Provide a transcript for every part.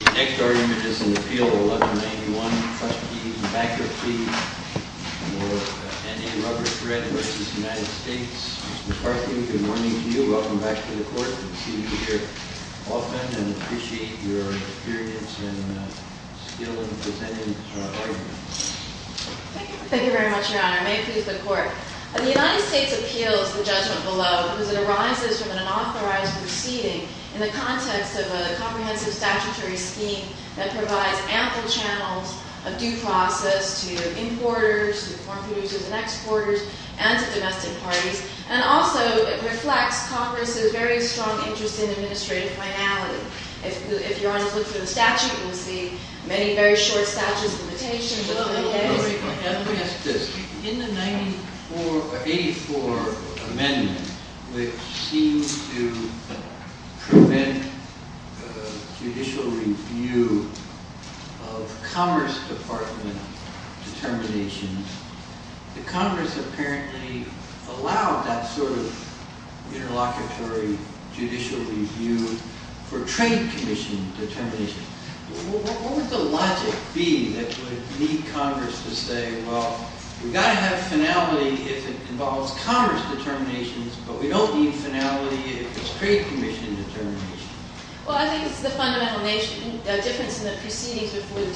Mr. McCarthy, good morning to you. Welcome back to the Court. We see you here often, and appreciate your experience and skill in presenting the argument. Thank you very much, Your Honor. May it please the Court. The United States appeals the judgment below because it arises from an unauthorized proceeding in the context of a comprehensive statutory scheme that provides ample channels of due process to importers, to foreign producers and exporters, and to domestic parties, and also it reflects Congress's very strong interest in administrative finality. If Your Honor looks at the statute, you'll see many very short statutes of limitations. Let me ask this. In the 84 amendment, which seems to prevent judicial review of Commerce Department determinations, the Congress apparently allowed that sort of interlocutory judicial review for Trade Commission determinations. What would the logic be that would need Congress to say, well, we've got to have finality if it involves Commerce determinations, but we don't need finality if it's Trade Commission determinations? Well, I think it's the fundamental difference in the proceedings before the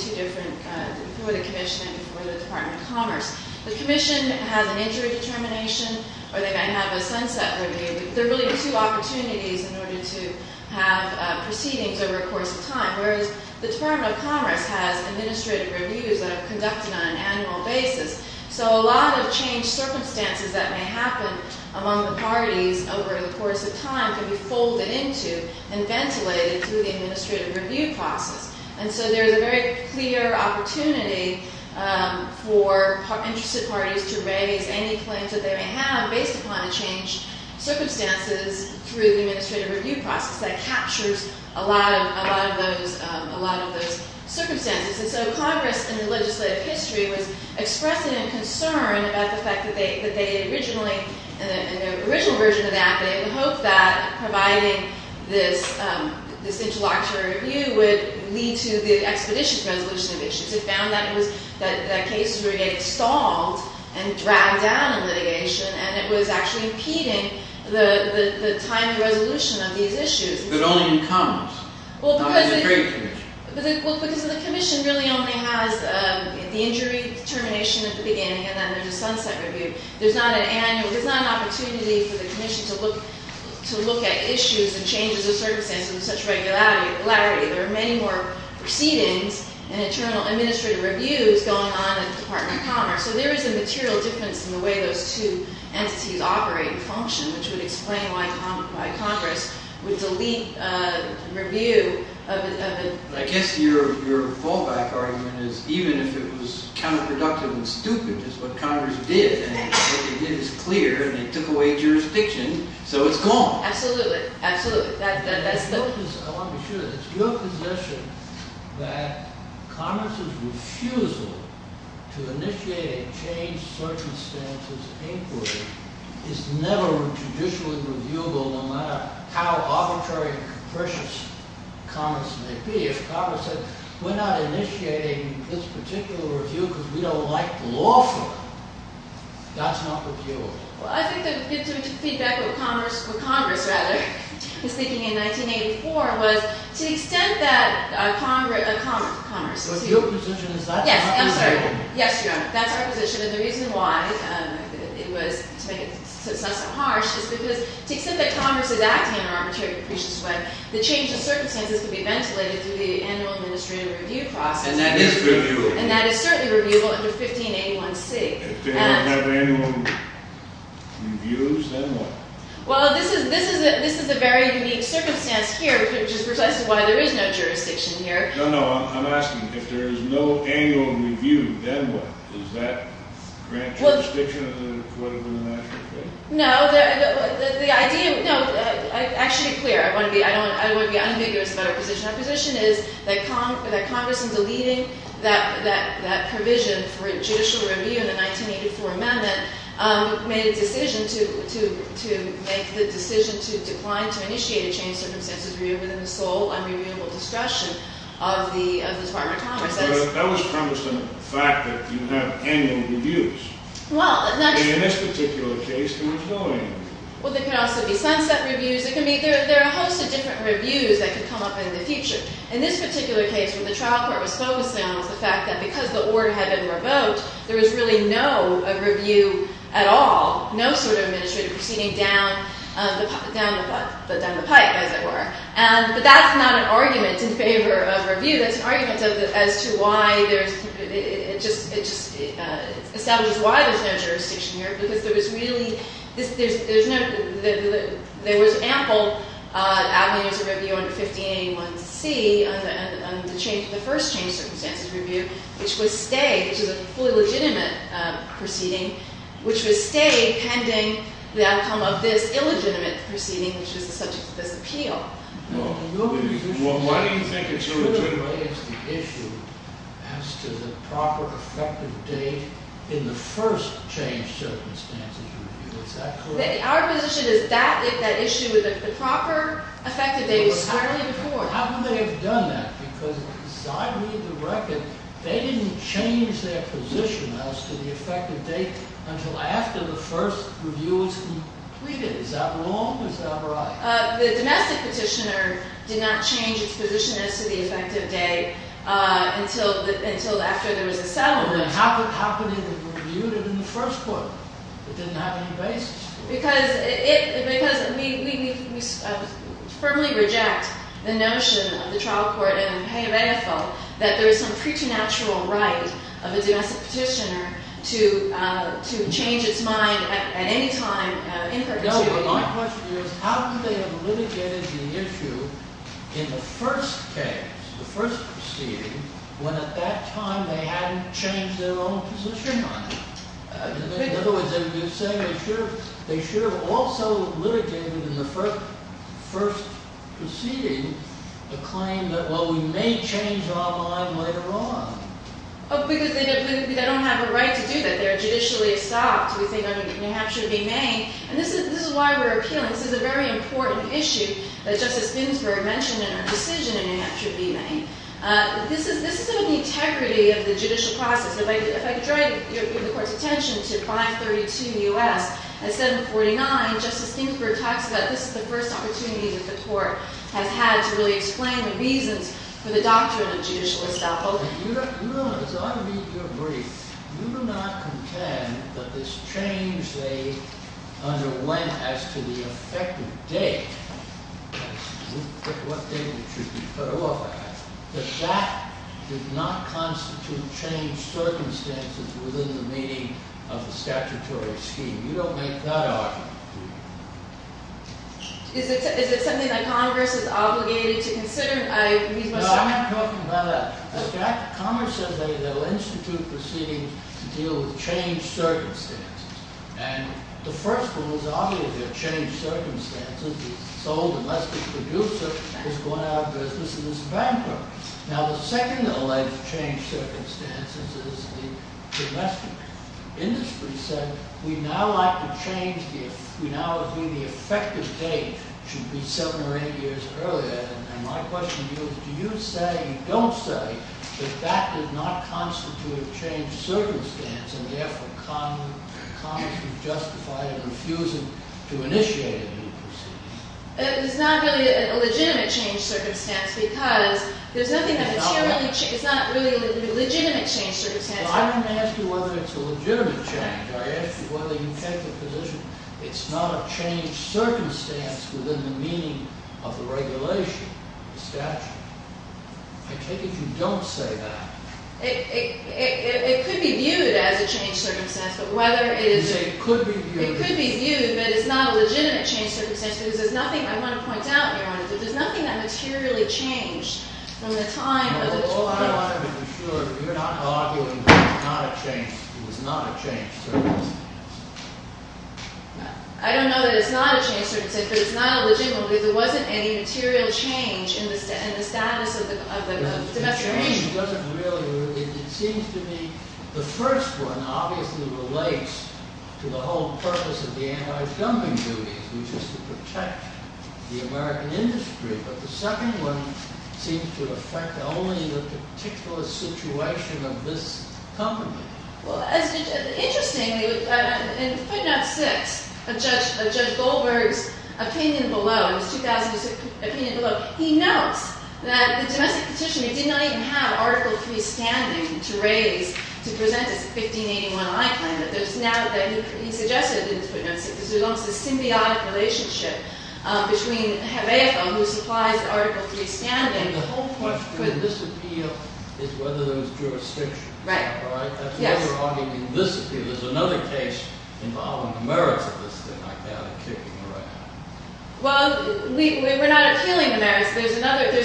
Commission and before the Department of Commerce. The Commission has an injury determination, or they might have a sunset review. There are really two opportunities in order to have proceedings over a course of time, whereas the Department of Commerce has administrative reviews that are conducted on an annual basis, so a lot of changed circumstances that may happen among the parties over the course of time can be folded into and ventilated through the administrative review process. And so there's a very clear opportunity for interested parties to raise any claims that they may have based upon the changed circumstances through the administrative review process that captures a lot of those circumstances. And so Congress, in the legislative history, was expressing a concern about the fact that they originally, in the original version of that, they had hoped that providing this interlocutory review would lead to the expeditious resolution of issues. It found that cases were getting stalled and dragged down in litigation, and it was actually impeding the timely resolution of these issues. But only in Commerce, not in the Trade Commission. Because the Commission really only has the injury determination at the beginning, and then there's a sunset review. There's not an opportunity for the Commission to look at issues and changes of circumstances with such regularity. There are many more proceedings and internal administrative reviews going on at the Department of Commerce. So there is a material difference in the way those two entities operate and function, which would explain why Congress would delete a review of a— I guess your fallback argument is even if it was counterproductive and stupid, just what Congress did, and what they did is clear, and they took away jurisdiction, so it's gone. Absolutely. Absolutely. I want to be sure. It's your position that Congress's refusal to initiate a changed circumstances inquiry is never judicially reviewable, no matter how arbitrary and capricious Commerce may be. If Congress said, we're not initiating this particular review because we don't like the lawful, that's not reviewable. Well, I think the feedback with Congress, rather, speaking in 1984, was to the extent that Commerce— But your position is that's not reviewable. Yes. I'm sorry. Yes, Your Honor. That's our position, and the reason why it was—to make it less harsh is because to the extent that Congress is acting in an arbitrary and capricious way, the change of circumstances can be ventilated through the annual administrative review process. And that is reviewable. And that is certainly reviewable under 1581C. If they don't have annual reviews, then what? Well, this is a very unique circumstance here, which is precisely why there is no jurisdiction here. No, no. I'm asking, if there is no annual review, then what? Does that grant jurisdiction to the court of international affairs? No. Actually, to be clear, I don't want to be unambiguous about our position. Our position is that Congress, in deleting that provision for judicial review in the 1984 amendment, made the decision to decline to initiate a change of circumstances review within the sole unreviewable discretion of the Department of Commerce. But that was promised in the fact that you have annual reviews. In this particular case, there was no annual. Well, there could also be sunset reviews. There are a host of different reviews that could come up in the future. In this particular case, where the trial court was focused on was the fact that because the order had been revoked, there was really no review at all, no sort of administrative proceeding down the pipe, as it were. But that's not an argument in favor of review. That's an argument as to why there's – it just establishes why there's no jurisdiction here, because there was really – there's no – there was ample avenues of review under 50A and 1C on the change – the first change of circumstances review, which was stay, which is a fully legitimate proceeding, which was stay pending the outcome of this illegitimate proceeding, which was the subject of this appeal. Well, why do you think it's true that it raised the issue as to the proper effective date in the first change of circumstances review? Is that correct? Our position is that if that issue – the proper effective date was fairly important. How come they have done that? Because if you side read the record, they didn't change their position as to the effective date until after the first review was completed. Is that wrong or is that right? The domestic petitioner did not change its position as to the effective date until after there was a settlement. Then how could they have reviewed it in the first court? It didn't have any basis. Because it – because we firmly reject the notion of the trial court and the pay of AFL that there is some preternatural right of a domestic petitioner to change its mind at any time in perpetuity. My question to you is how could they have litigated the issue in the first case, the first proceeding, when at that time they hadn't changed their own position on it? In other words, are you saying they should have – they should have also litigated in the first proceeding the claim that, well, we may change our mind later on? Because they don't have a right to do that. They are judicially estopped. We think New Hampshire v. Maine. And this is why we're appealing. This is a very important issue that Justice Ginsburg mentioned in her decision in New Hampshire v. Maine. This is an integrity of the judicial process. If I could draw your – the Court's attention to 532 U.S. and 749, Justice Ginsburg talks about this is the first opportunity that the Court has had to really explain the reasons for the doctrine of judicial estoppel. You don't – as I read your brief, you do not contend that this change they underwent as to the effective date, what date it should be put off at, that that did not constitute changed circumstances within the meaning of the statutory scheme. You don't make that argument, do you? Is it something that Congress is obligated to consider? No, I'm not talking about that. Congress says they will institute proceedings to deal with changed circumstances. And the first one is obviously a changed circumstance. The sole domestic producer has gone out of business and is bankrupt. Now, the second alleged changed circumstance is the domestic. Industry said we now like to change – we now agree the effective date should be seven or eight years earlier. And my question to you is do you say, don't say, that that did not constitute a changed circumstance and, therefore, Congress would justify it and refuse it to initiate any proceedings? It's not really a legitimate changed circumstance because there's nothing that materially – it's not really a legitimate changed circumstance. I didn't ask you whether it's a legitimate change. I asked you whether you take the position it's not a changed circumstance within the meaning of the regulation, the statute. I take it you don't say that. It could be viewed as a changed circumstance, but whether it is – You say it could be viewed as – It could be viewed, but it's not a legitimate changed circumstance because there's nothing – I want to point out, Your Honor, that there's nothing that materially changed from the time of the – All I want to be sure that you're not arguing that it's not a changed circumstance. I don't know that it's not a changed circumstance, but it's not a legitimate because there wasn't any material change in the status of the domestic regulation. The change wasn't really – it seems to me the first one obviously relates to the whole purpose of the anti-filming duties, which is to protect the American industry, but the second one seems to affect only the particular situation of this company. Well, interestingly, in footnote 6 of Judge Goldberg's opinion below, in his 2006 opinion below, he notes that the domestic petitioner did not even have Article III standing to raise, to present his 1581-I claim. He suggested in his footnotes that there's almost a symbiotic relationship between Hayek, who supplies the Article III standing – The whole question in this appeal is whether there was jurisdiction. Right. That's why you're arguing in this appeal. There's another case involving the merits of this thing like that and kicking around. Well, we're not appealing the merits. There's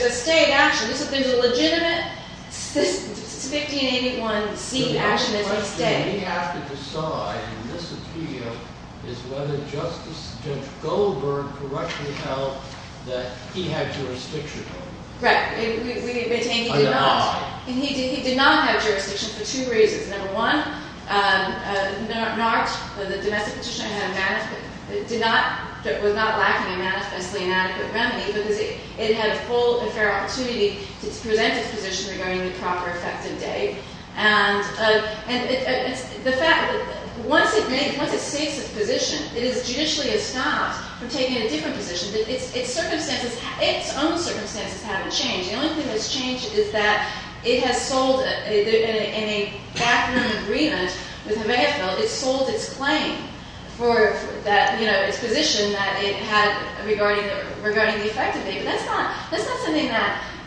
a state action. There's a legitimate 1581-C action that's a state. What we have to decide in this appeal is whether Justice – Judge Goldberg correctly held that he had jurisdiction over it. Right. And he did not have jurisdiction for two reasons. Number one, not – the domestic petitioner had – did not – was not lacking a manifestly inadequate remedy because it had a full and fair opportunity to present its position regarding the proper effective date. And the fact – once it makes – once it states its position, it is judicially escoffed from taking a different position. Its circumstances – its own circumstances haven't changed. The only thing that's changed is that it has sold – in a backroom agreement with the Mayfell, it sold its claim for that – you know, its position that it had regarding the effective date. That's not – that's not something that –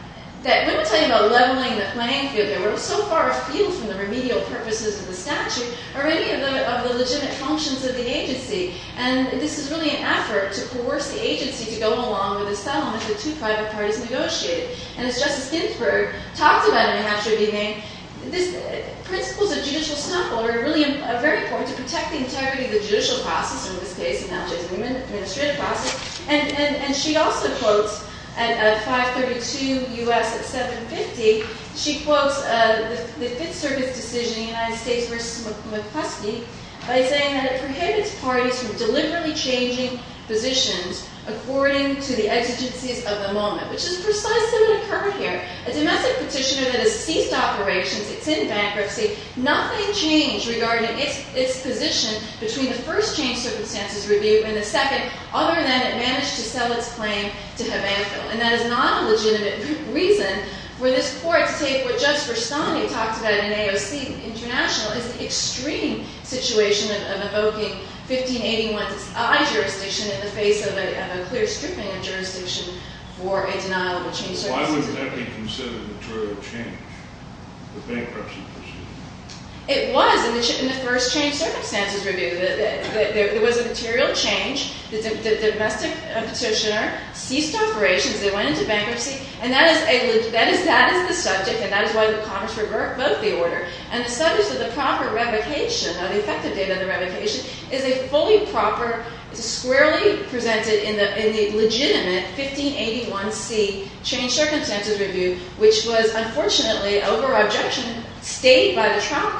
that wouldn't tell you about leveling the playing field there. We're so far afield from the remedial purposes of the statute already of the legitimate functions of the agency. And this is really an effort to coerce the agency to go along with the settlement that two private parties negotiated. And as Justice Ginsburg talked about in the Hatchery Beginning, this – principles of judicial snuffle are really very important to protect the integrity of the judicial process, in this case, and not just the administrative process. And she also quotes – at 532 U.S. at 750, she quotes the Fifth Circuit's decision in the United States v. McCluskey by saying that it prohibits parties from deliberately changing positions according to the exigencies of the moment, which is precisely what occurred here. A domestic petitioner that has ceased operations, it's in bankruptcy, nothing changed regarding its position between the first change circumstances review and the second, other than it managed to sell its claim to Havanfield. And that is not a legitimate reason for this court to take what Justice Rastani talked about in AOC International as an extreme situation of evoking 1581's I jurisdiction in the face of a clear stripping of jurisdiction for a denial of a change circumstances review. Why would that be considered material change, the bankruptcy position? It was in the first change circumstances review. There was a material change. The domestic petitioner ceased operations. They went into bankruptcy. And that is a – that is the subject, and that is why the Congress revoked the order. And the subject of the proper revocation, of the effective date of the revocation, is a fully proper, squarely presented in the legitimate 1581C change circumstances review, which was unfortunately, over objection, stayed by the trial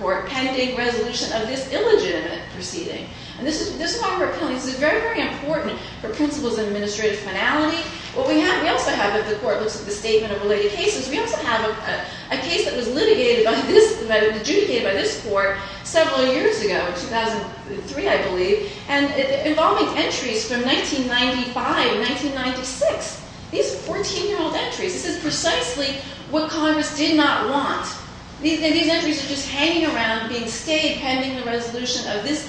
court pending resolution of this illegitimate proceeding. And this is why we're appealing. This is very, very important for principles of administrative finality. What we have – we also have, if the court looks at the statement of related cases, we also have a case that was litigated by this – adjudicated by this court several years ago, 2003, I believe, and involving entries from 1995, 1996. These are 14-year-old entries. This is precisely what Congress did not want. These entries are just hanging around, being stayed, pending the resolution of this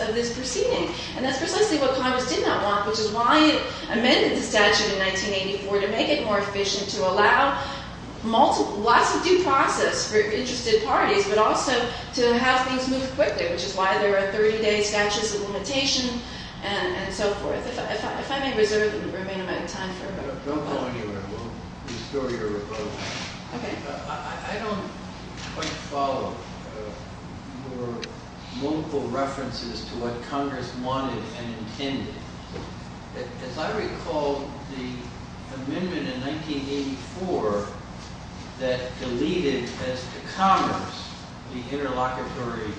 – of this proceeding. And that's precisely what Congress did not want, which is why it amended the statute in 1984, to make it more efficient, to allow lots of due process for interested parties, but also to have things move quickly, which is why there are 30-day statutes of limitation and so forth. If I may reserve the remaining amount of time for – Don't go anywhere. We'll restore your revocation. Okay. I don't quite follow your local references to what Congress wanted and intended. As I recall, the amendment in 1984 that deleted, as to commerce, the interlocutory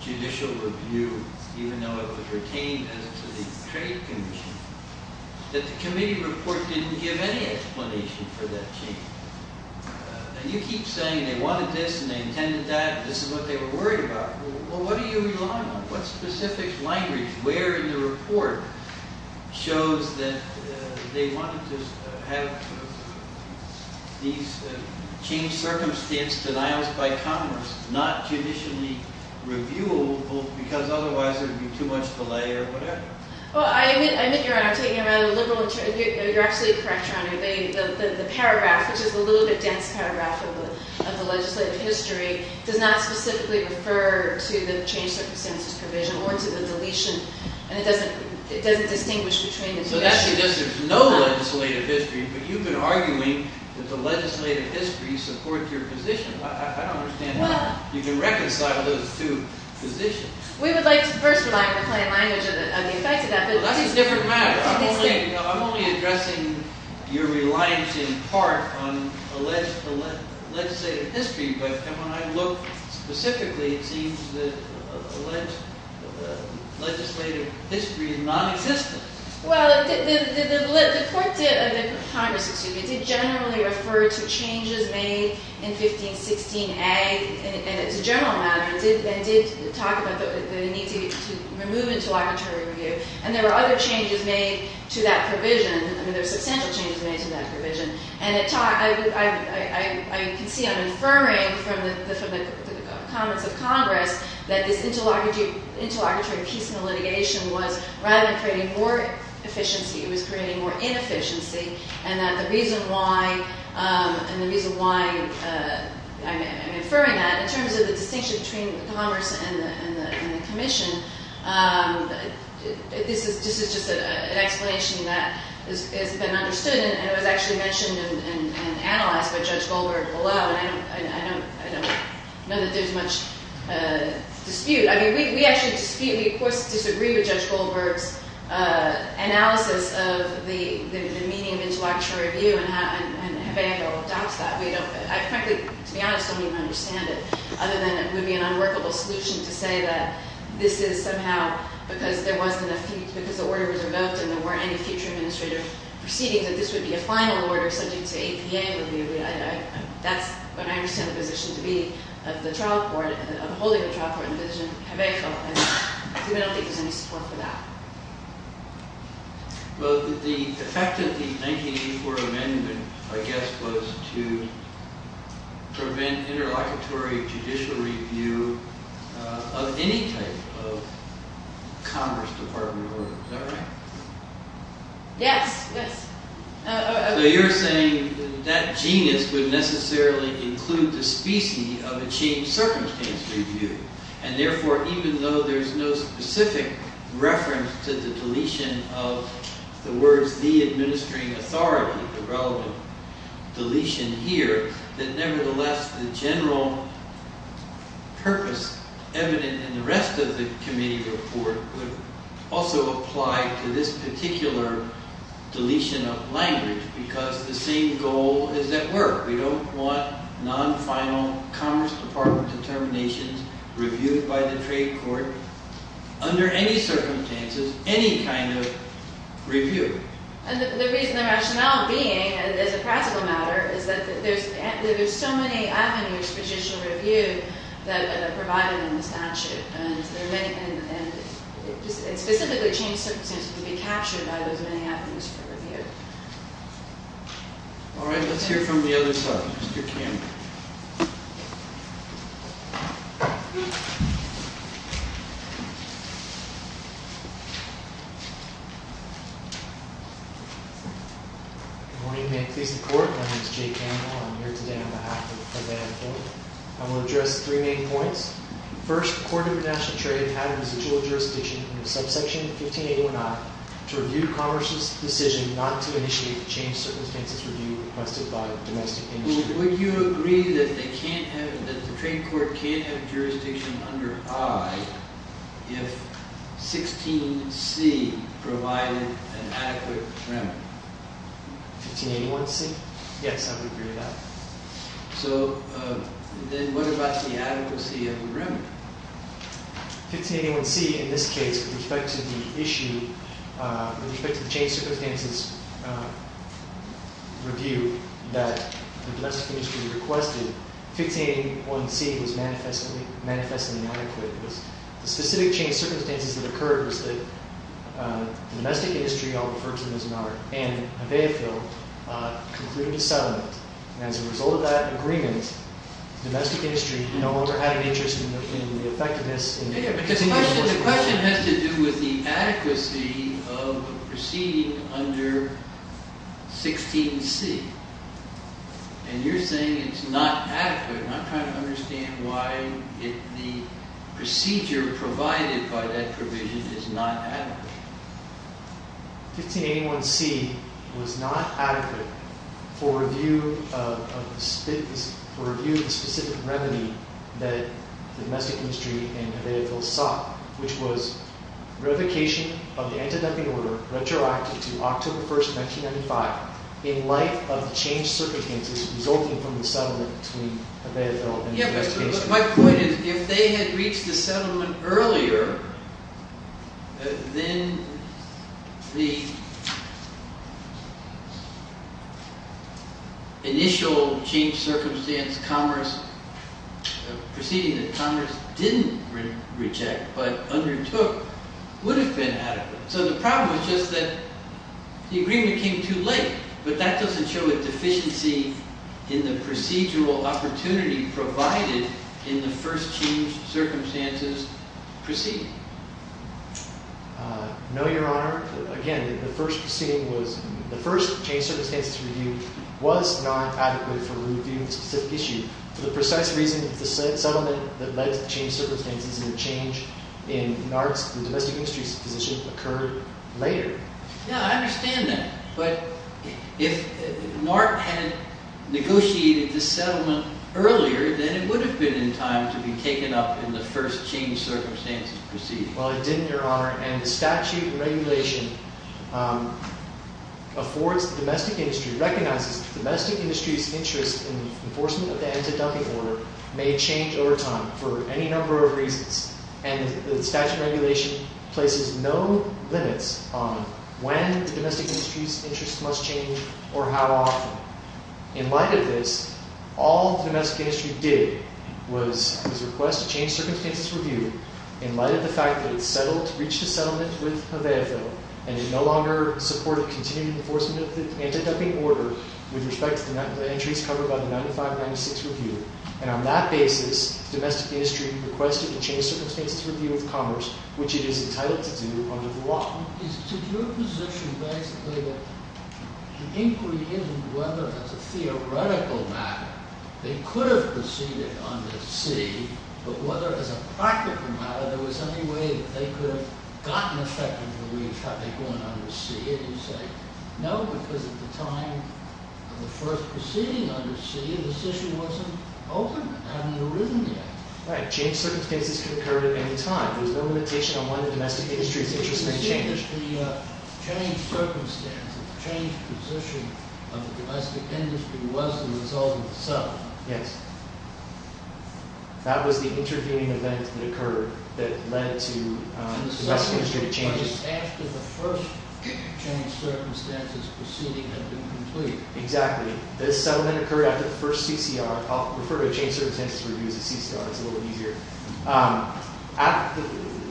judicial review, even though it was retained as to the trade commission, that the committee report didn't give any explanation for that change. And you keep saying they wanted this and they intended that and this is what they were worried about. Well, what do you rely on? What specific language, where in the report, shows that they wanted to have these changed circumstance denials by Congress not judicially reviewable because otherwise there would be too much delay or whatever? Well, I admit, Your Honor, I'm taking it out of the liberal – you're absolutely correct, Your Honor. The paragraph, which is a little bit dense paragraph of the legislative history, does not specifically refer to the changed circumstances provision or to the deletion. And it doesn't distinguish between the two. So that's because there's no legislative history, but you've been arguing that the legislative history supports your position. I don't understand how you can reconcile those two positions. We would like to first rely on the plain language of the effects of that. Well, that's a different matter. I'm only addressing your reliance in part on alleged legislative history. But when I look specifically, it seems that alleged legislative history is nonexistent. Well, the court did – Congress, excuse me – did generally refer to changes made in 1516a in its general matter and did talk about the need to remove interlocutory review. And there were other changes made to that provision. I mean, there were substantial changes made to that provision. And it – I can see I'm affirming from the comments of Congress that this interlocutory piece in the litigation was rather than creating more efficiency, it was creating more inefficiency. And that the reason why – and the reason why I'm affirming that in terms of the distinction between commerce and the commission, this is just an explanation that has been understood. And it was actually mentioned and analyzed by Judge Goldberg below. And I don't know that there's much dispute. I mean, we actually dispute – we, of course, disagree with Judge Goldberg's analysis of the meaning of interlocutory review and how – and have angle adopts that. We don't – I frankly, to be honest, don't even understand it, other than it would be an unworkable solution to say that this is somehow because there wasn't enough – because the order was revoked and there weren't any future administrative proceedings, that this would be a final order subject to APA would be – I – that's what I understand the position to be of the trial court, of holding the trial court in the division. And I don't think there's any support for that. Well, the effect of the 1984 amendment, I guess, was to prevent interlocutory judicial review of any type of commerce department order. Is that right? Yes. So you're saying that genus would necessarily include the specie of a changed circumstance review. And therefore, even though there's no specific reference to the deletion of the words the administering authority, the relevant deletion here, that nevertheless, the general purpose evident in the rest of the committee report would also apply to this particular deletion of language because the same goal is at work. We don't want non-final commerce department determinations reviewed by the trade court under any circumstances, any kind of review. And the reason the rationale being, as a practical matter, is that there's so many avenues for judicial review that are provided in the statute. And specifically changed circumstances can be captured by those many avenues for review. All right. Let's hear from the other side. Mr. Campbell. Good morning. May it please the court. My name is Jay Campbell. I'm here today on behalf of the preventative board. I will address three main points. First, the court of international trade had a residual jurisdiction in the subsection 1581I to review commerce's decision not to initiate the changed circumstances review requested by domestic industry. Would you agree that the trade court can't have jurisdiction under I if 16C provided an adequate remedy? 1581C? Yes, I would agree with that. So then what about the adequacy of the remedy? 1581C, in this case, with respect to the issue, with respect to the changed circumstances review that the domestic industry requested, 1581C was manifestly inadequate. The specific changed circumstances that occurred was that the domestic industry, I'll refer to them as an R, and a Bayfield concluded a settlement. And as a result of that agreement, the domestic industry no longer had an interest in the effectiveness. The question has to do with the adequacy of proceeding under 16C. And you're saying it's not adequate, and I'm trying to understand why the procedure provided by that provision is not adequate. 1581C was not adequate for review of the specific remedy that the domestic industry and Bayfield sought, which was revocation of the anti-dumping order, retroactive to October 1, 1995, in light of the changed circumstances resulting from the settlement between the Bayfield and the domestic industry. My point is, if they had reached the settlement earlier, then the initial changed circumstance proceeding that Congress didn't reject but undertook would have been adequate. So the problem is just that the agreement came too late. But that doesn't show a deficiency in the procedural opportunity provided in the first changed circumstances proceeding. No, Your Honor. Again, the first proceeding was, the first changed circumstances review was not adequate for reviewing the specific issue. For the precise reason that the settlement that led to the changed circumstances and the change in NART's, the domestic industry's position, occurred later. Yeah, I understand that. But if NART had negotiated the settlement earlier, then it would have been in time to be taken up in the first changed circumstances proceeding. Well, it didn't, Your Honor. And the statute and regulation affords the domestic industry, recognizes the domestic industry's interest in the enforcement of the anti-dumping order may change over time for any number of reasons. And the statute and regulation places no limits on when the domestic industry's interest must change or how often. In light of this, all the domestic industry did was request a changed circumstances review in light of the fact that it settled, reached a settlement with Hoveafil, and it no longer supported continued enforcement of the anti-dumping order with respect to the entries covered by the 95-96 review. And on that basis, the domestic industry requested a changed circumstances review with Congress, which it is entitled to do under the law. Is it your position, basically, that the inquiry isn't whether, as a theoretical matter, they could have proceeded under C, but whether, as a practical matter, there was any way that they could have gotten effective relief had they gone under C? And you say, no, because at the time of the first proceeding under C, this issue wasn't open. It hadn't arisen yet. Right. Changed circumstances could occur at any time. There's no limitation on when the domestic industry's interest may change. You're saying that the changed circumstances, changed position of the domestic industry was the result of the settlement. Yes. That was the intervening event that occurred that led to the domestic industry to change. After the first changed circumstances proceeding had been completed. Exactly. This settlement occurred after the first CCR. I'll refer to a changed circumstances review as a CCR. It's a little easier.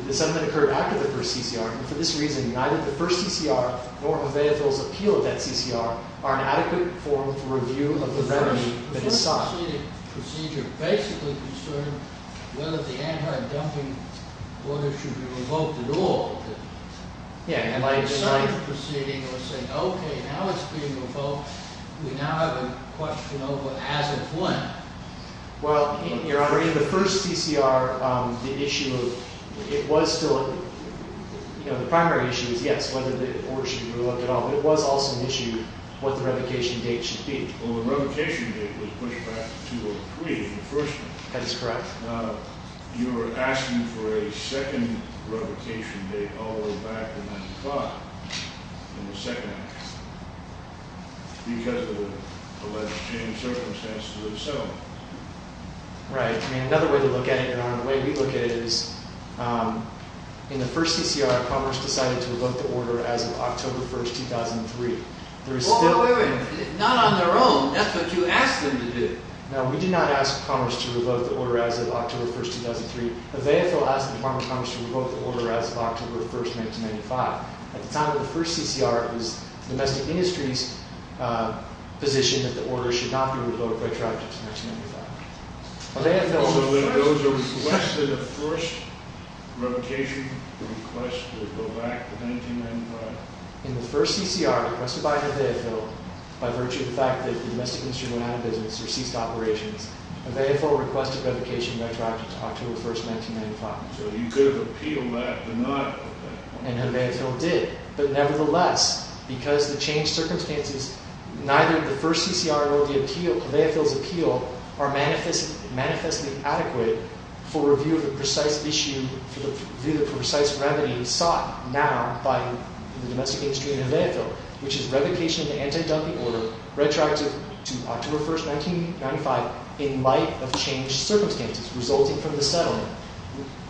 The settlement occurred after the first CCR. For this reason, neither the first CCR nor Hoveafil's appeal of that CCR are an adequate form for review of the remedy that is sought. The first proceeding procedure basically concerned whether the anti-dumping order should be revoked at all. Yeah. The second proceeding was saying, okay, now it's being revoked. We now have a question over as of when. Well, Your Honor, in the first CCR, the issue of – it was still – you know, the primary issue was, yes, whether the order should be revoked at all. But it was also an issue what the revocation date should be. Well, the revocation date was pushed back to 2-03 in the first one. That is correct. Your Honor, you're asking for a second revocation date all the way back to 9 o'clock in the second one because of the alleged changed circumstances of the settlement. Right. I mean, another way to look at it, Your Honor, the way we look at it is in the first CCR, Commerce decided to revoke the order as of October 1, 2003. There is still – Wait, wait, wait. Not on their own. That's what you asked them to do. Now, we did not ask Commerce to revoke the order as of October 1, 2003. Nevaeh Fiddle asked the Department of Commerce to revoke the order as of October 1, 1995. At the time of the first CCR, it was the domestic industry's position that the order should not be revoked retroactively to 1995. Nevaeh Fiddle was the first – So those are less than the first revocation request to go back to 1995? In the first CCR requested by Nevaeh Fiddle by virtue of the fact that the domestic industry went out of business or ceased operations, Nevaeh Fiddle requested revocation retroactively to October 1, 1995. So you could have appealed that but not Nevaeh Fiddle? And Nevaeh Fiddle did. But nevertheless, because of the changed circumstances, neither the first CCR nor Nevaeh Fiddle's appeal are manifestly adequate for review of the precise issue, for the precise remedy sought now by the domestic industry and Nevaeh Fiddle, which is revocation of the anti-dumping order retroactive to October 1, 1995 in light of changed circumstances resulting from the settlement.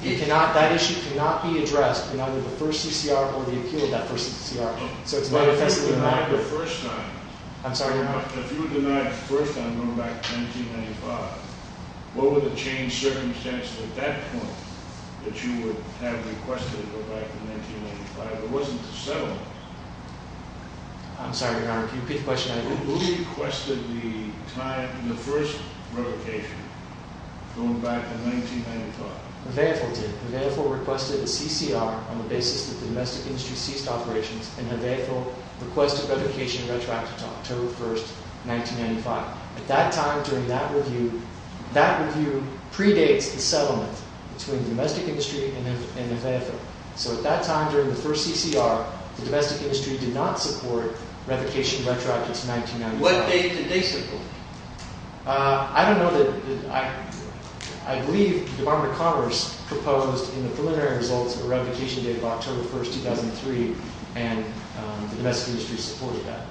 That issue cannot be addressed in either the first CCR or the appeal of that first CCR. So it's manifestly inadequate. But if you were denied the first time – I'm sorry, Your Honor? If you were denied the first time going back to 1995, what were the changed circumstances at that point that you would have requested to go back to 1995? It wasn't the settlement. I'm sorry, Your Honor. Can you repeat the question? Who requested the first revocation going back to 1995? Nevaeh Fiddle did. Nevaeh Fiddle requested a CCR on the basis that the domestic industry ceased operations, and Nevaeh Fiddle requested revocation of retroactive to October 1, 1995. At that time during that review, that review predates the settlement between the domestic industry and Nevaeh Fiddle. So at that time during the first CCR, the domestic industry did not support revocation of retroactive to 1995. What date did they support? I don't know. I believe the Department of Commerce proposed in the preliminary results a revocation date of October 1, 2003, and the domestic industry supported that.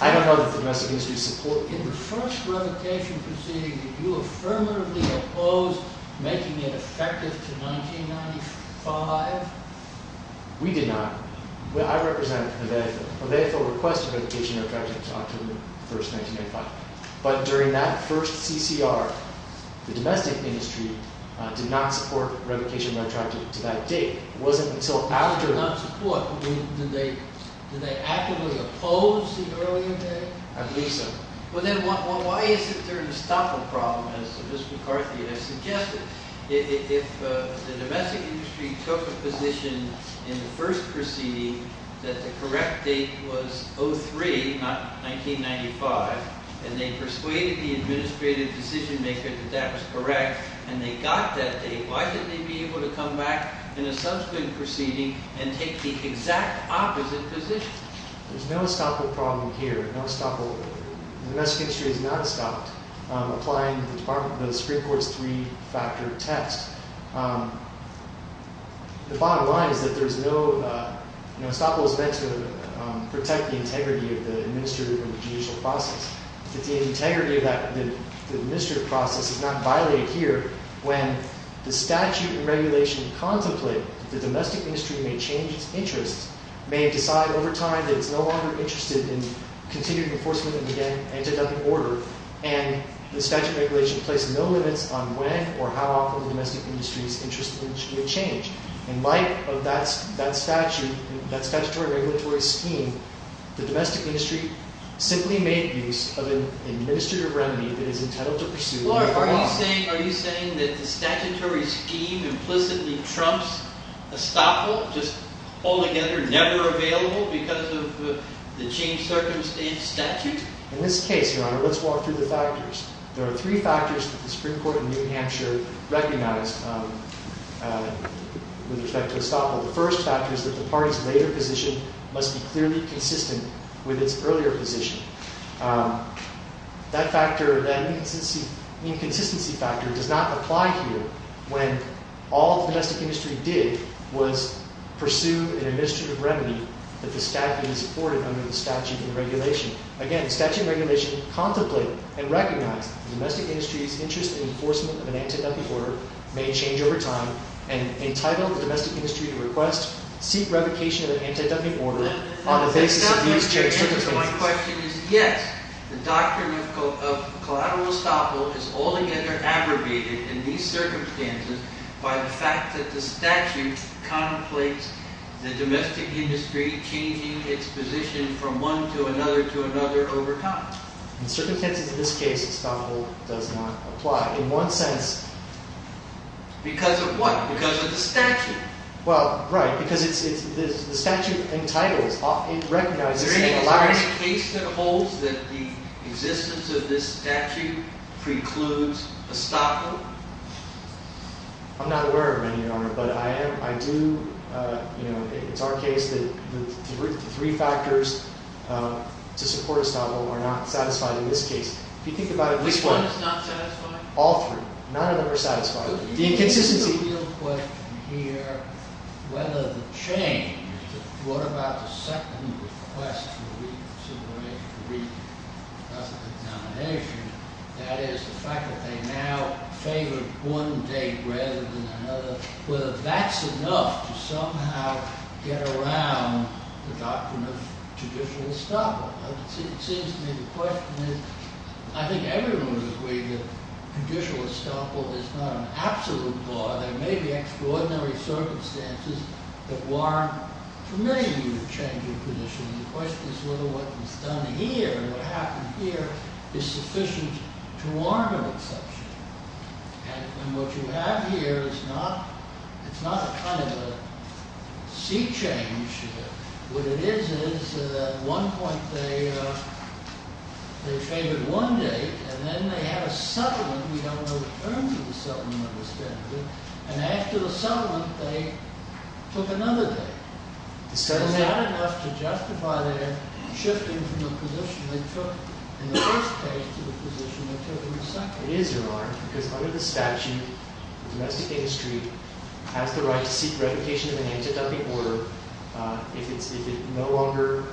I don't know that the domestic industry supported that. In the first revocation proceeding, did you affirmatively oppose making it effective to 1995? We did not. I represent Nevaeh Fiddle. Nevaeh Fiddle requested revocation of retroactive to October 1, 1995. But during that first CCR, the domestic industry did not support revocation of retroactive to that date. It wasn't until after... They did not support. Did they actively oppose the earlier date? I believe so. Well then, why isn't there an estoppel problem, as Ms. McCarthy has suggested? If the domestic industry took a position in the first proceeding that the correct date was 03, not 1995, and they persuaded the administrative decision-maker that that was correct, and they got that date, why couldn't they be able to come back in a subsequent proceeding and take the exact opposite position? There's no estoppel problem here. No estoppel. The domestic industry has not stopped applying the Supreme Court's three-factor test. The bottom line is that there's no... Estoppel is meant to protect the integrity of the administrative and judicial process. If the integrity of the administrative process is not violated here, when the statute and regulation contemplate that the domestic industry may change its interests, may decide over time that it's no longer interested in continuing enforcement of the anti-dumping order, and the statute and regulation place no limits on when or how often the domestic industry's interest in change. In light of that statutory regulatory scheme, the domestic industry simply made use of an administrative remedy that is entitled to pursue... Are you saying that the statutory scheme implicitly trumps estoppel, just altogether never available because of the changed-circumstance statute? In this case, Your Honor, let's walk through the factors. There are three factors that the Supreme Court in New Hampshire recognized with respect to estoppel. The first factor is that the party's later position must be clearly consistent with its earlier position. That inconsistency factor does not apply here when all the domestic industry did was pursue an administrative remedy that the statute supported under the statute and regulation. Again, the statute and regulation contemplate and recognize the domestic industry's interest in enforcement of an anti-dumping order may change over time and entitle the domestic industry to request, seek revocation of an anti-dumping order on the basis of these... My question is, yes, the doctrine of collateral estoppel is altogether abrogated in these circumstances by the fact that the statute contemplates the domestic industry changing its position from one to another to another over time. In certain cases in this case, estoppel does not apply. In one sense... Because of what? Because of the statute? Well, right, because the statute entitles, it recognizes... Is there any case that holds that the existence of this statute precludes estoppel? I'm not aware of any, Your Honor, but I do... You know, it's our case that the three factors to support estoppel are not satisfied in this case. If you think about it this way... Which one is not satisfied? All three. None of them are satisfied. The inconsistency... The real question here, whether the change... What about the second request for reconsideration, for reexamination? That is, the fact that they now favor one date rather than another, whether that's enough to somehow get around the doctrine of judicial estoppel. It seems to me the question is... I think everyone would agree that judicial estoppel is not an absolute law. There may be extraordinary circumstances that warrant, for many of you, a change of position. The question is whether what was done here, what happened here, is sufficient to warrant an exception. And what you have here is not... It's not a kind of a sea change. What it is, is at one point they favored one date, and then they had a settlement. We don't know the terms of the settlement, understandably. And after the settlement, they took another date. Is that enough to justify their shifting from the position they took in the first case to the position they took in the second? It is, Your Honor, because under the statute, the domestic industry has the right to seek revocation of an anti-dumping order if it no longer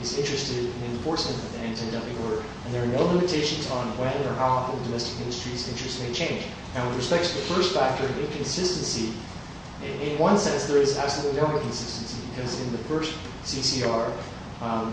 is interested in enforcement of the anti-dumping order. And there are no limitations on when or how often the domestic industry's interest may change. And with respect to the first factor, inconsistency, in one sense there is absolutely no inconsistency because in the first CCR, the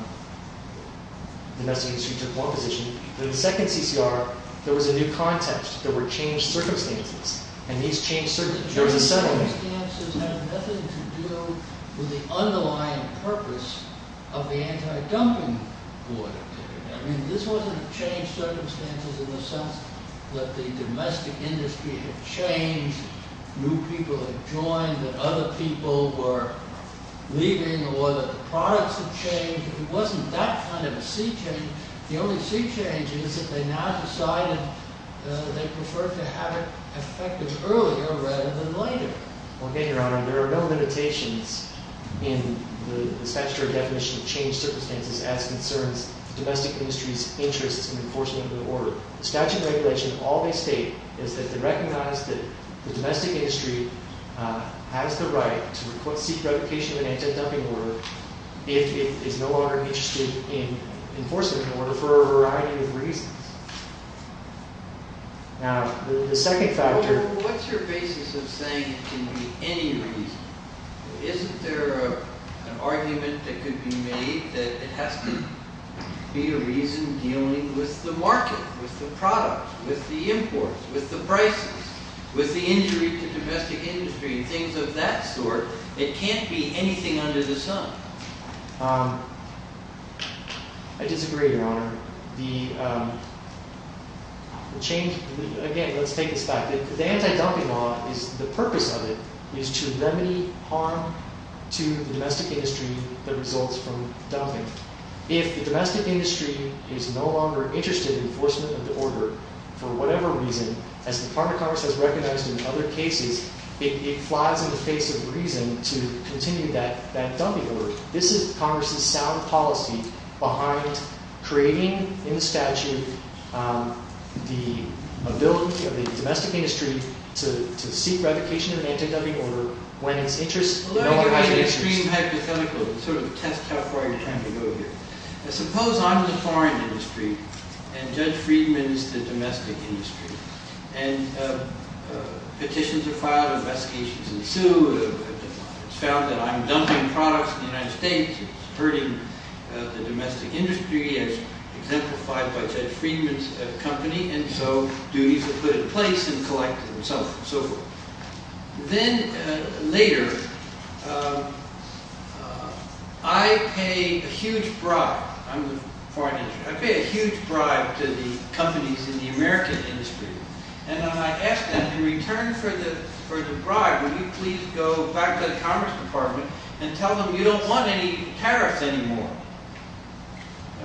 domestic industry took one position. In the second CCR, there was a new context. There were changed circumstances, and these changed circumstances. There was a settlement. These circumstances had nothing to do with the underlying purpose of the anti-dumping order. I mean, this wasn't a changed circumstance in the sense that the domestic industry had changed, new people had joined, that other people were leaving, or that the products had changed. It wasn't that kind of a sea change. The only sea change is that they now decided they preferred to have it effected earlier rather than later. Okay, Your Honor. There are no limitations in the statutory definition of changed circumstances as concerns the domestic industry's interest in enforcing the order. The statute and regulation, all they state is that they recognize that the domestic industry has the right to seek revocation of an anti-dumping order if it is no longer interested in enforcing the order for a variety of reasons. Now, the second factor... Well, what's your basis of saying it can be any reason? Isn't there an argument that could be made that it has to be a reason dealing with the market, with the product, with the imports, with the prices, with the injury to domestic industry and things of that sort? It can't be anything under the sun. I disagree, Your Honor. The change... Again, let's take this back. The anti-dumping law, the purpose of it is to remedy harm to the domestic industry that results from dumping. If the domestic industry is no longer interested in enforcement of the order for whatever reason, as the Department of Commerce has recognized in other cases, it flies in the face of reason to continue that dumping order. This is Congress's sound policy behind creating in the statute the ability of the domestic industry to seek revocation of an anti-dumping order when it's interest... Let me give you an extreme hypothetical to sort of test how far you're trying to go here. Suppose I'm in the foreign industry and Judge Friedman's the domestic industry. And petitions are filed, investigations ensue. It's found that I'm dumping products in the United States. It's hurting the domestic industry as exemplified by Judge Friedman's company. And so duties are put in place and collected and so forth. Then later, I pay a huge bribe. I'm in the foreign industry. I pay a huge bribe to the companies in the American industry. And I ask them, in return for the bribe, would you please go back to the Commerce Department and tell them you don't want any tariffs anymore?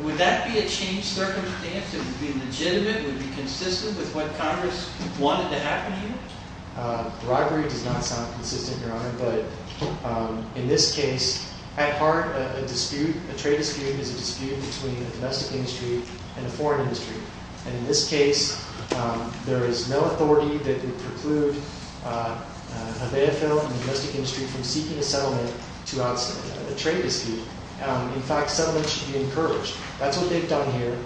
Would that be a changed circumstance? Would it be legitimate? Would it be consistent with what Congress wanted to happen here? The bribery does not sound consistent, Your Honor. But in this case, at heart, a dispute, a trade dispute, is a dispute between a domestic industry and a foreign industry. And in this case, there is no authority that could preclude an AFL and a domestic industry from seeking a settlement throughout a trade dispute. In fact, settlement should be encouraged. That's what they've done here.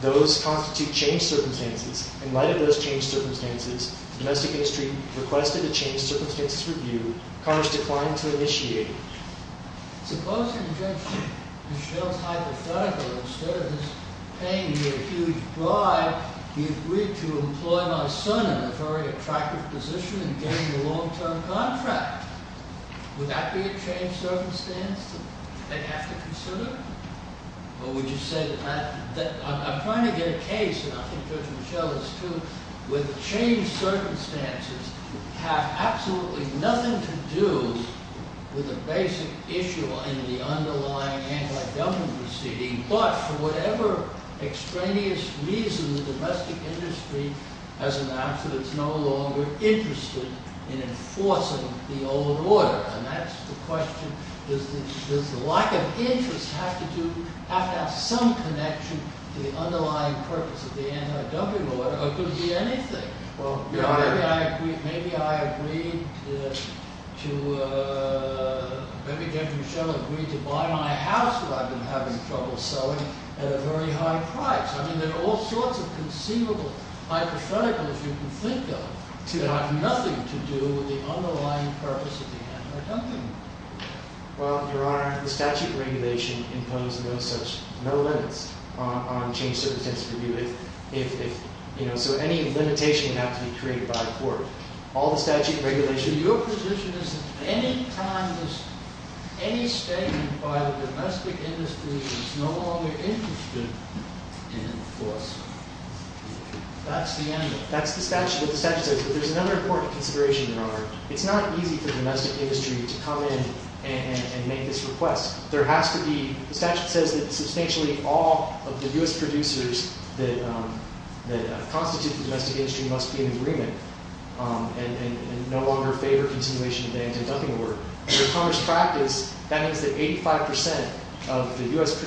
Those constitute changed circumstances. In light of those changed circumstances, the domestic industry requested a changed circumstances review. Congress declined to initiate it. Suppose in Judge Mischel's hypothetical, instead of this paying you a huge bribe, you agreed to employ my son in a very attractive position and gain a long-term contract. Would that be a changed circumstance that they have to consider? Or would you say that I'm trying to get a case, and I think Judge Mischel is too, where the changed circumstances have absolutely nothing to do with a basic issue in the underlying anti-government proceeding, but for whatever extraneous reason the domestic industry has announced that it's no longer interested in enforcing the old order. And that's the question, does the lack of interest have to have some connection to the underlying purpose of the anti-W order, or could it be anything? Well, maybe I agreed to, maybe Judge Mischel agreed to buy my house that I've been having trouble selling at a very high price. I mean, there are all sorts of conceivable hypotheticals you can think of that have nothing to do with the underlying purpose of the anti-government. Well, Your Honor, the statute of regulation imposes no limits on changed circumstances. So any limitation would have to be created by a court. Your position is that any statement by the domestic industry that it's no longer interested in enforcing, that's the end of it? That's what the statute says. But there's another important consideration, Your Honor. It's not easy for the domestic industry to come in and make this request. The statute says that substantially all of the U.S. producers that constitute the domestic industry must be in agreement and no longer favor continuation of the anti-dumping order. In the commerce practice, that means that 85% of the U.S.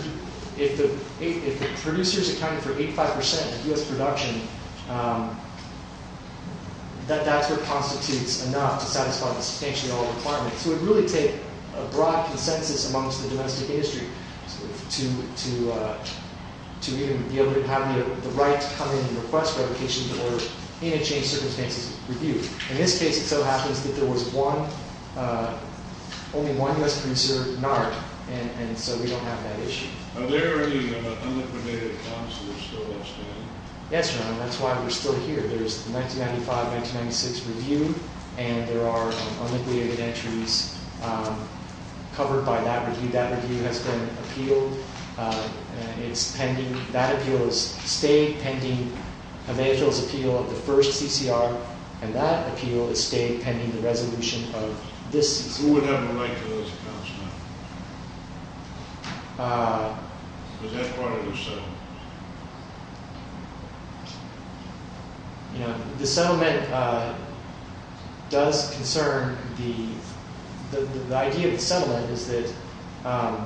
If the producers accounted for 85% of U.S. production, that's what constitutes enough to satisfy the substantial requirement. So it would really take a broad consensus amongst the domestic industry to even be able to have the right to come in and request revocation in order to change circumstances with you. In this case, it so happens that there was only one U.S. producer, NARC, and so we don't have that issue. Are there any unliquidated accounts that are still outstanding? Yes, Your Honor. That's why we're still here. There's the 1995-1996 review, and there are unliquidated entries covered by that review. That review has been appealed. That appeal has stayed pending. The first CCR, and that appeal has stayed pending the resolution of this CCR. Who would have a right to those accounts now? Because that's part of the settlement. The settlement does concern the... The idea of the settlement is that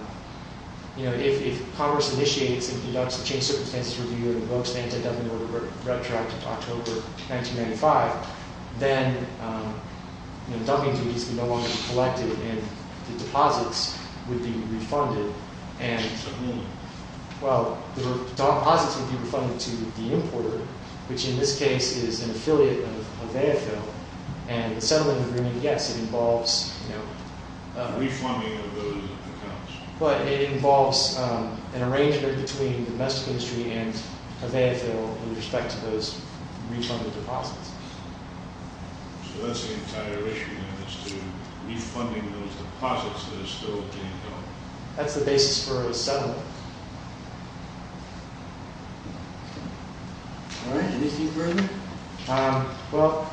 if Congress initiates and conducts a change of circumstances review and invokes anti-dumping order retroactive October 1995, then dumping duties can no longer be collected and the deposits would be refunded. What does that mean? Well, the deposits would be refunded to the importer, which in this case is an affiliate of AFL, and the settlement agreement, yes, it involves... Refunding of those accounts. But it involves an arrangement between the domestic industry and AFL in respect to those refunded deposits. So that's the entire issue, then, is to... Refunding those deposits that are still being held. That's the basis for a settlement. All right, anything further? Well,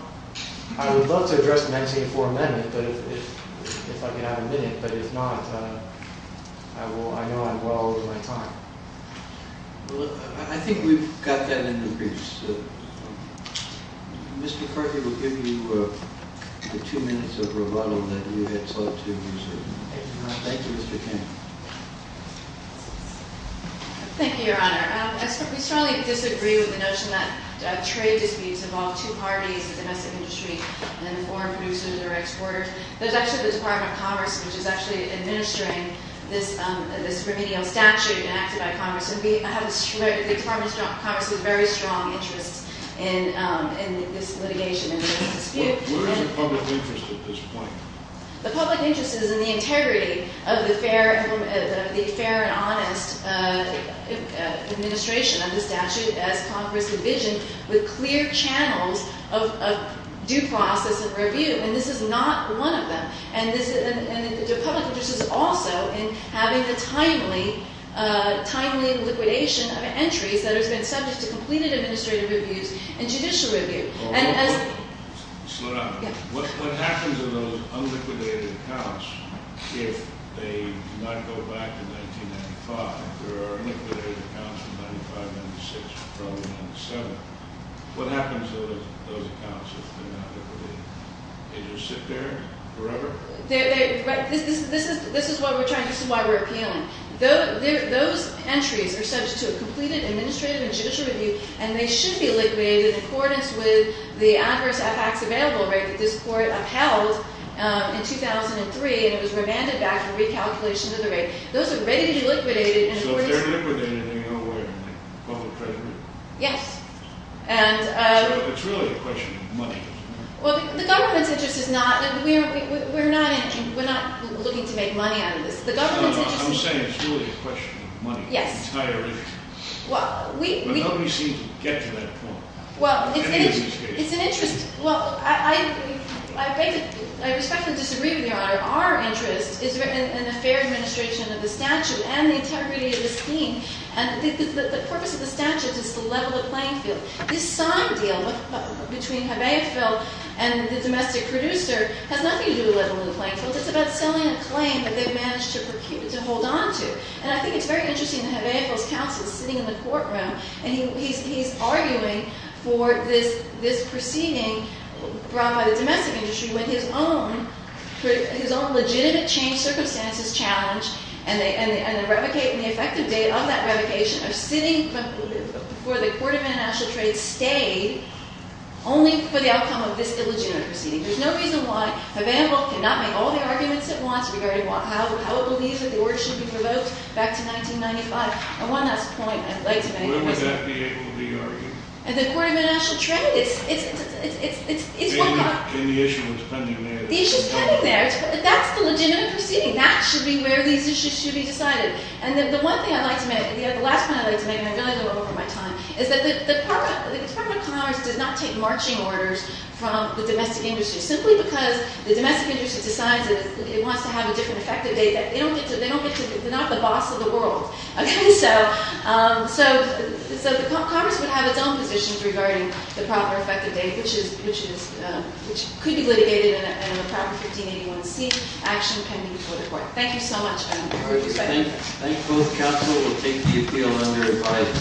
I would love to address the 1984 amendment, but if I could have a minute, but if not, I know I'm well over my time. Well, I think we've got that in the briefs. Mr. Corky will give you the two minutes of rebuttal that you had sought to reserve. Thank you, Mr. King. Thank you, Your Honor. We strongly disagree with the notion that trade disputes involve two parties, domestic industry and foreign producers or exporters. There's actually the Department of Commerce, which is actually administering this remedial statute enacted by Congress, and the Department of Commerce has very strong interests in this litigation and dispute. What is the public interest at this point? The public interest is in the integrity of the fair and honest administration of the statute, as Congress envisioned, with clear channels of due process and review, and this is not one of them. And the public interest is also in having a timely liquidation of entries that have been subject to completed administrative reviews and judicial review. Slow down. What happens to those unliquidated accounts if they do not go back to 1995? There are unliquidated accounts from 1995, 1996, probably 1997. What happens to those accounts if they're not liquidated? Do they just sit there forever? This is why we're appealing. Those entries are subject to a completed administrative and judicial review, and they should be liquidated in accordance with the adverse effects available rate that this Court upheld in 2003, and it was remanded back for recalculation of the rate. Those are ready to be liquidated. So if they're liquidated, they're nowhere in the public treasury? Yes. So it's really a question of money. Well, the government's interest is not. We're not looking to make money out of this. I'm saying it's really a question of money. Yes. Entirely. Nobody seems to get to that point. Well, it's an interest. Well, I respectfully disagree with Your Honor. Our interest is in the fair administration of the statute and the integrity of the scheme, and the purpose of the statute is to level the playing field. This signed deal between Habeasville and the domestic producer has nothing to do with leveling the playing field. It's about selling a claim that they've managed to hold on to, and I think it's very interesting that Habeasville's counsel is sitting in the courtroom, and he's arguing for this proceeding brought by the domestic industry with his own legitimate change circumstances challenge, and the effective date of that revocation are sitting for the Court of International Trade's stay, only for the outcome of this illegitimate proceeding. There's no reason why Habeasville cannot make all the arguments it wants regarding how it believes that the order should be provoked back to 1995. And one last point I'd like to make. Where would that be able to be argued? At the Court of International Trade. And the issue is pending there. The issue's pending there. That's the legitimate proceeding. That should be where these issues should be decided. And the one thing I'd like to make, the last point I'd like to make, and I'm going to go over my time, is that the Department of Commerce does not take marching orders from the domestic industry, simply because the domestic industry decides that it wants to have a different effective date. They're not the boss of the world. So the Commerce would have its own positions regarding the proper effective date, which could be litigated in a proper 1581C action pending before the Court. Thank you so much. I look forward to spending time with you. Thank you. Both counsel will take the appeal under advice.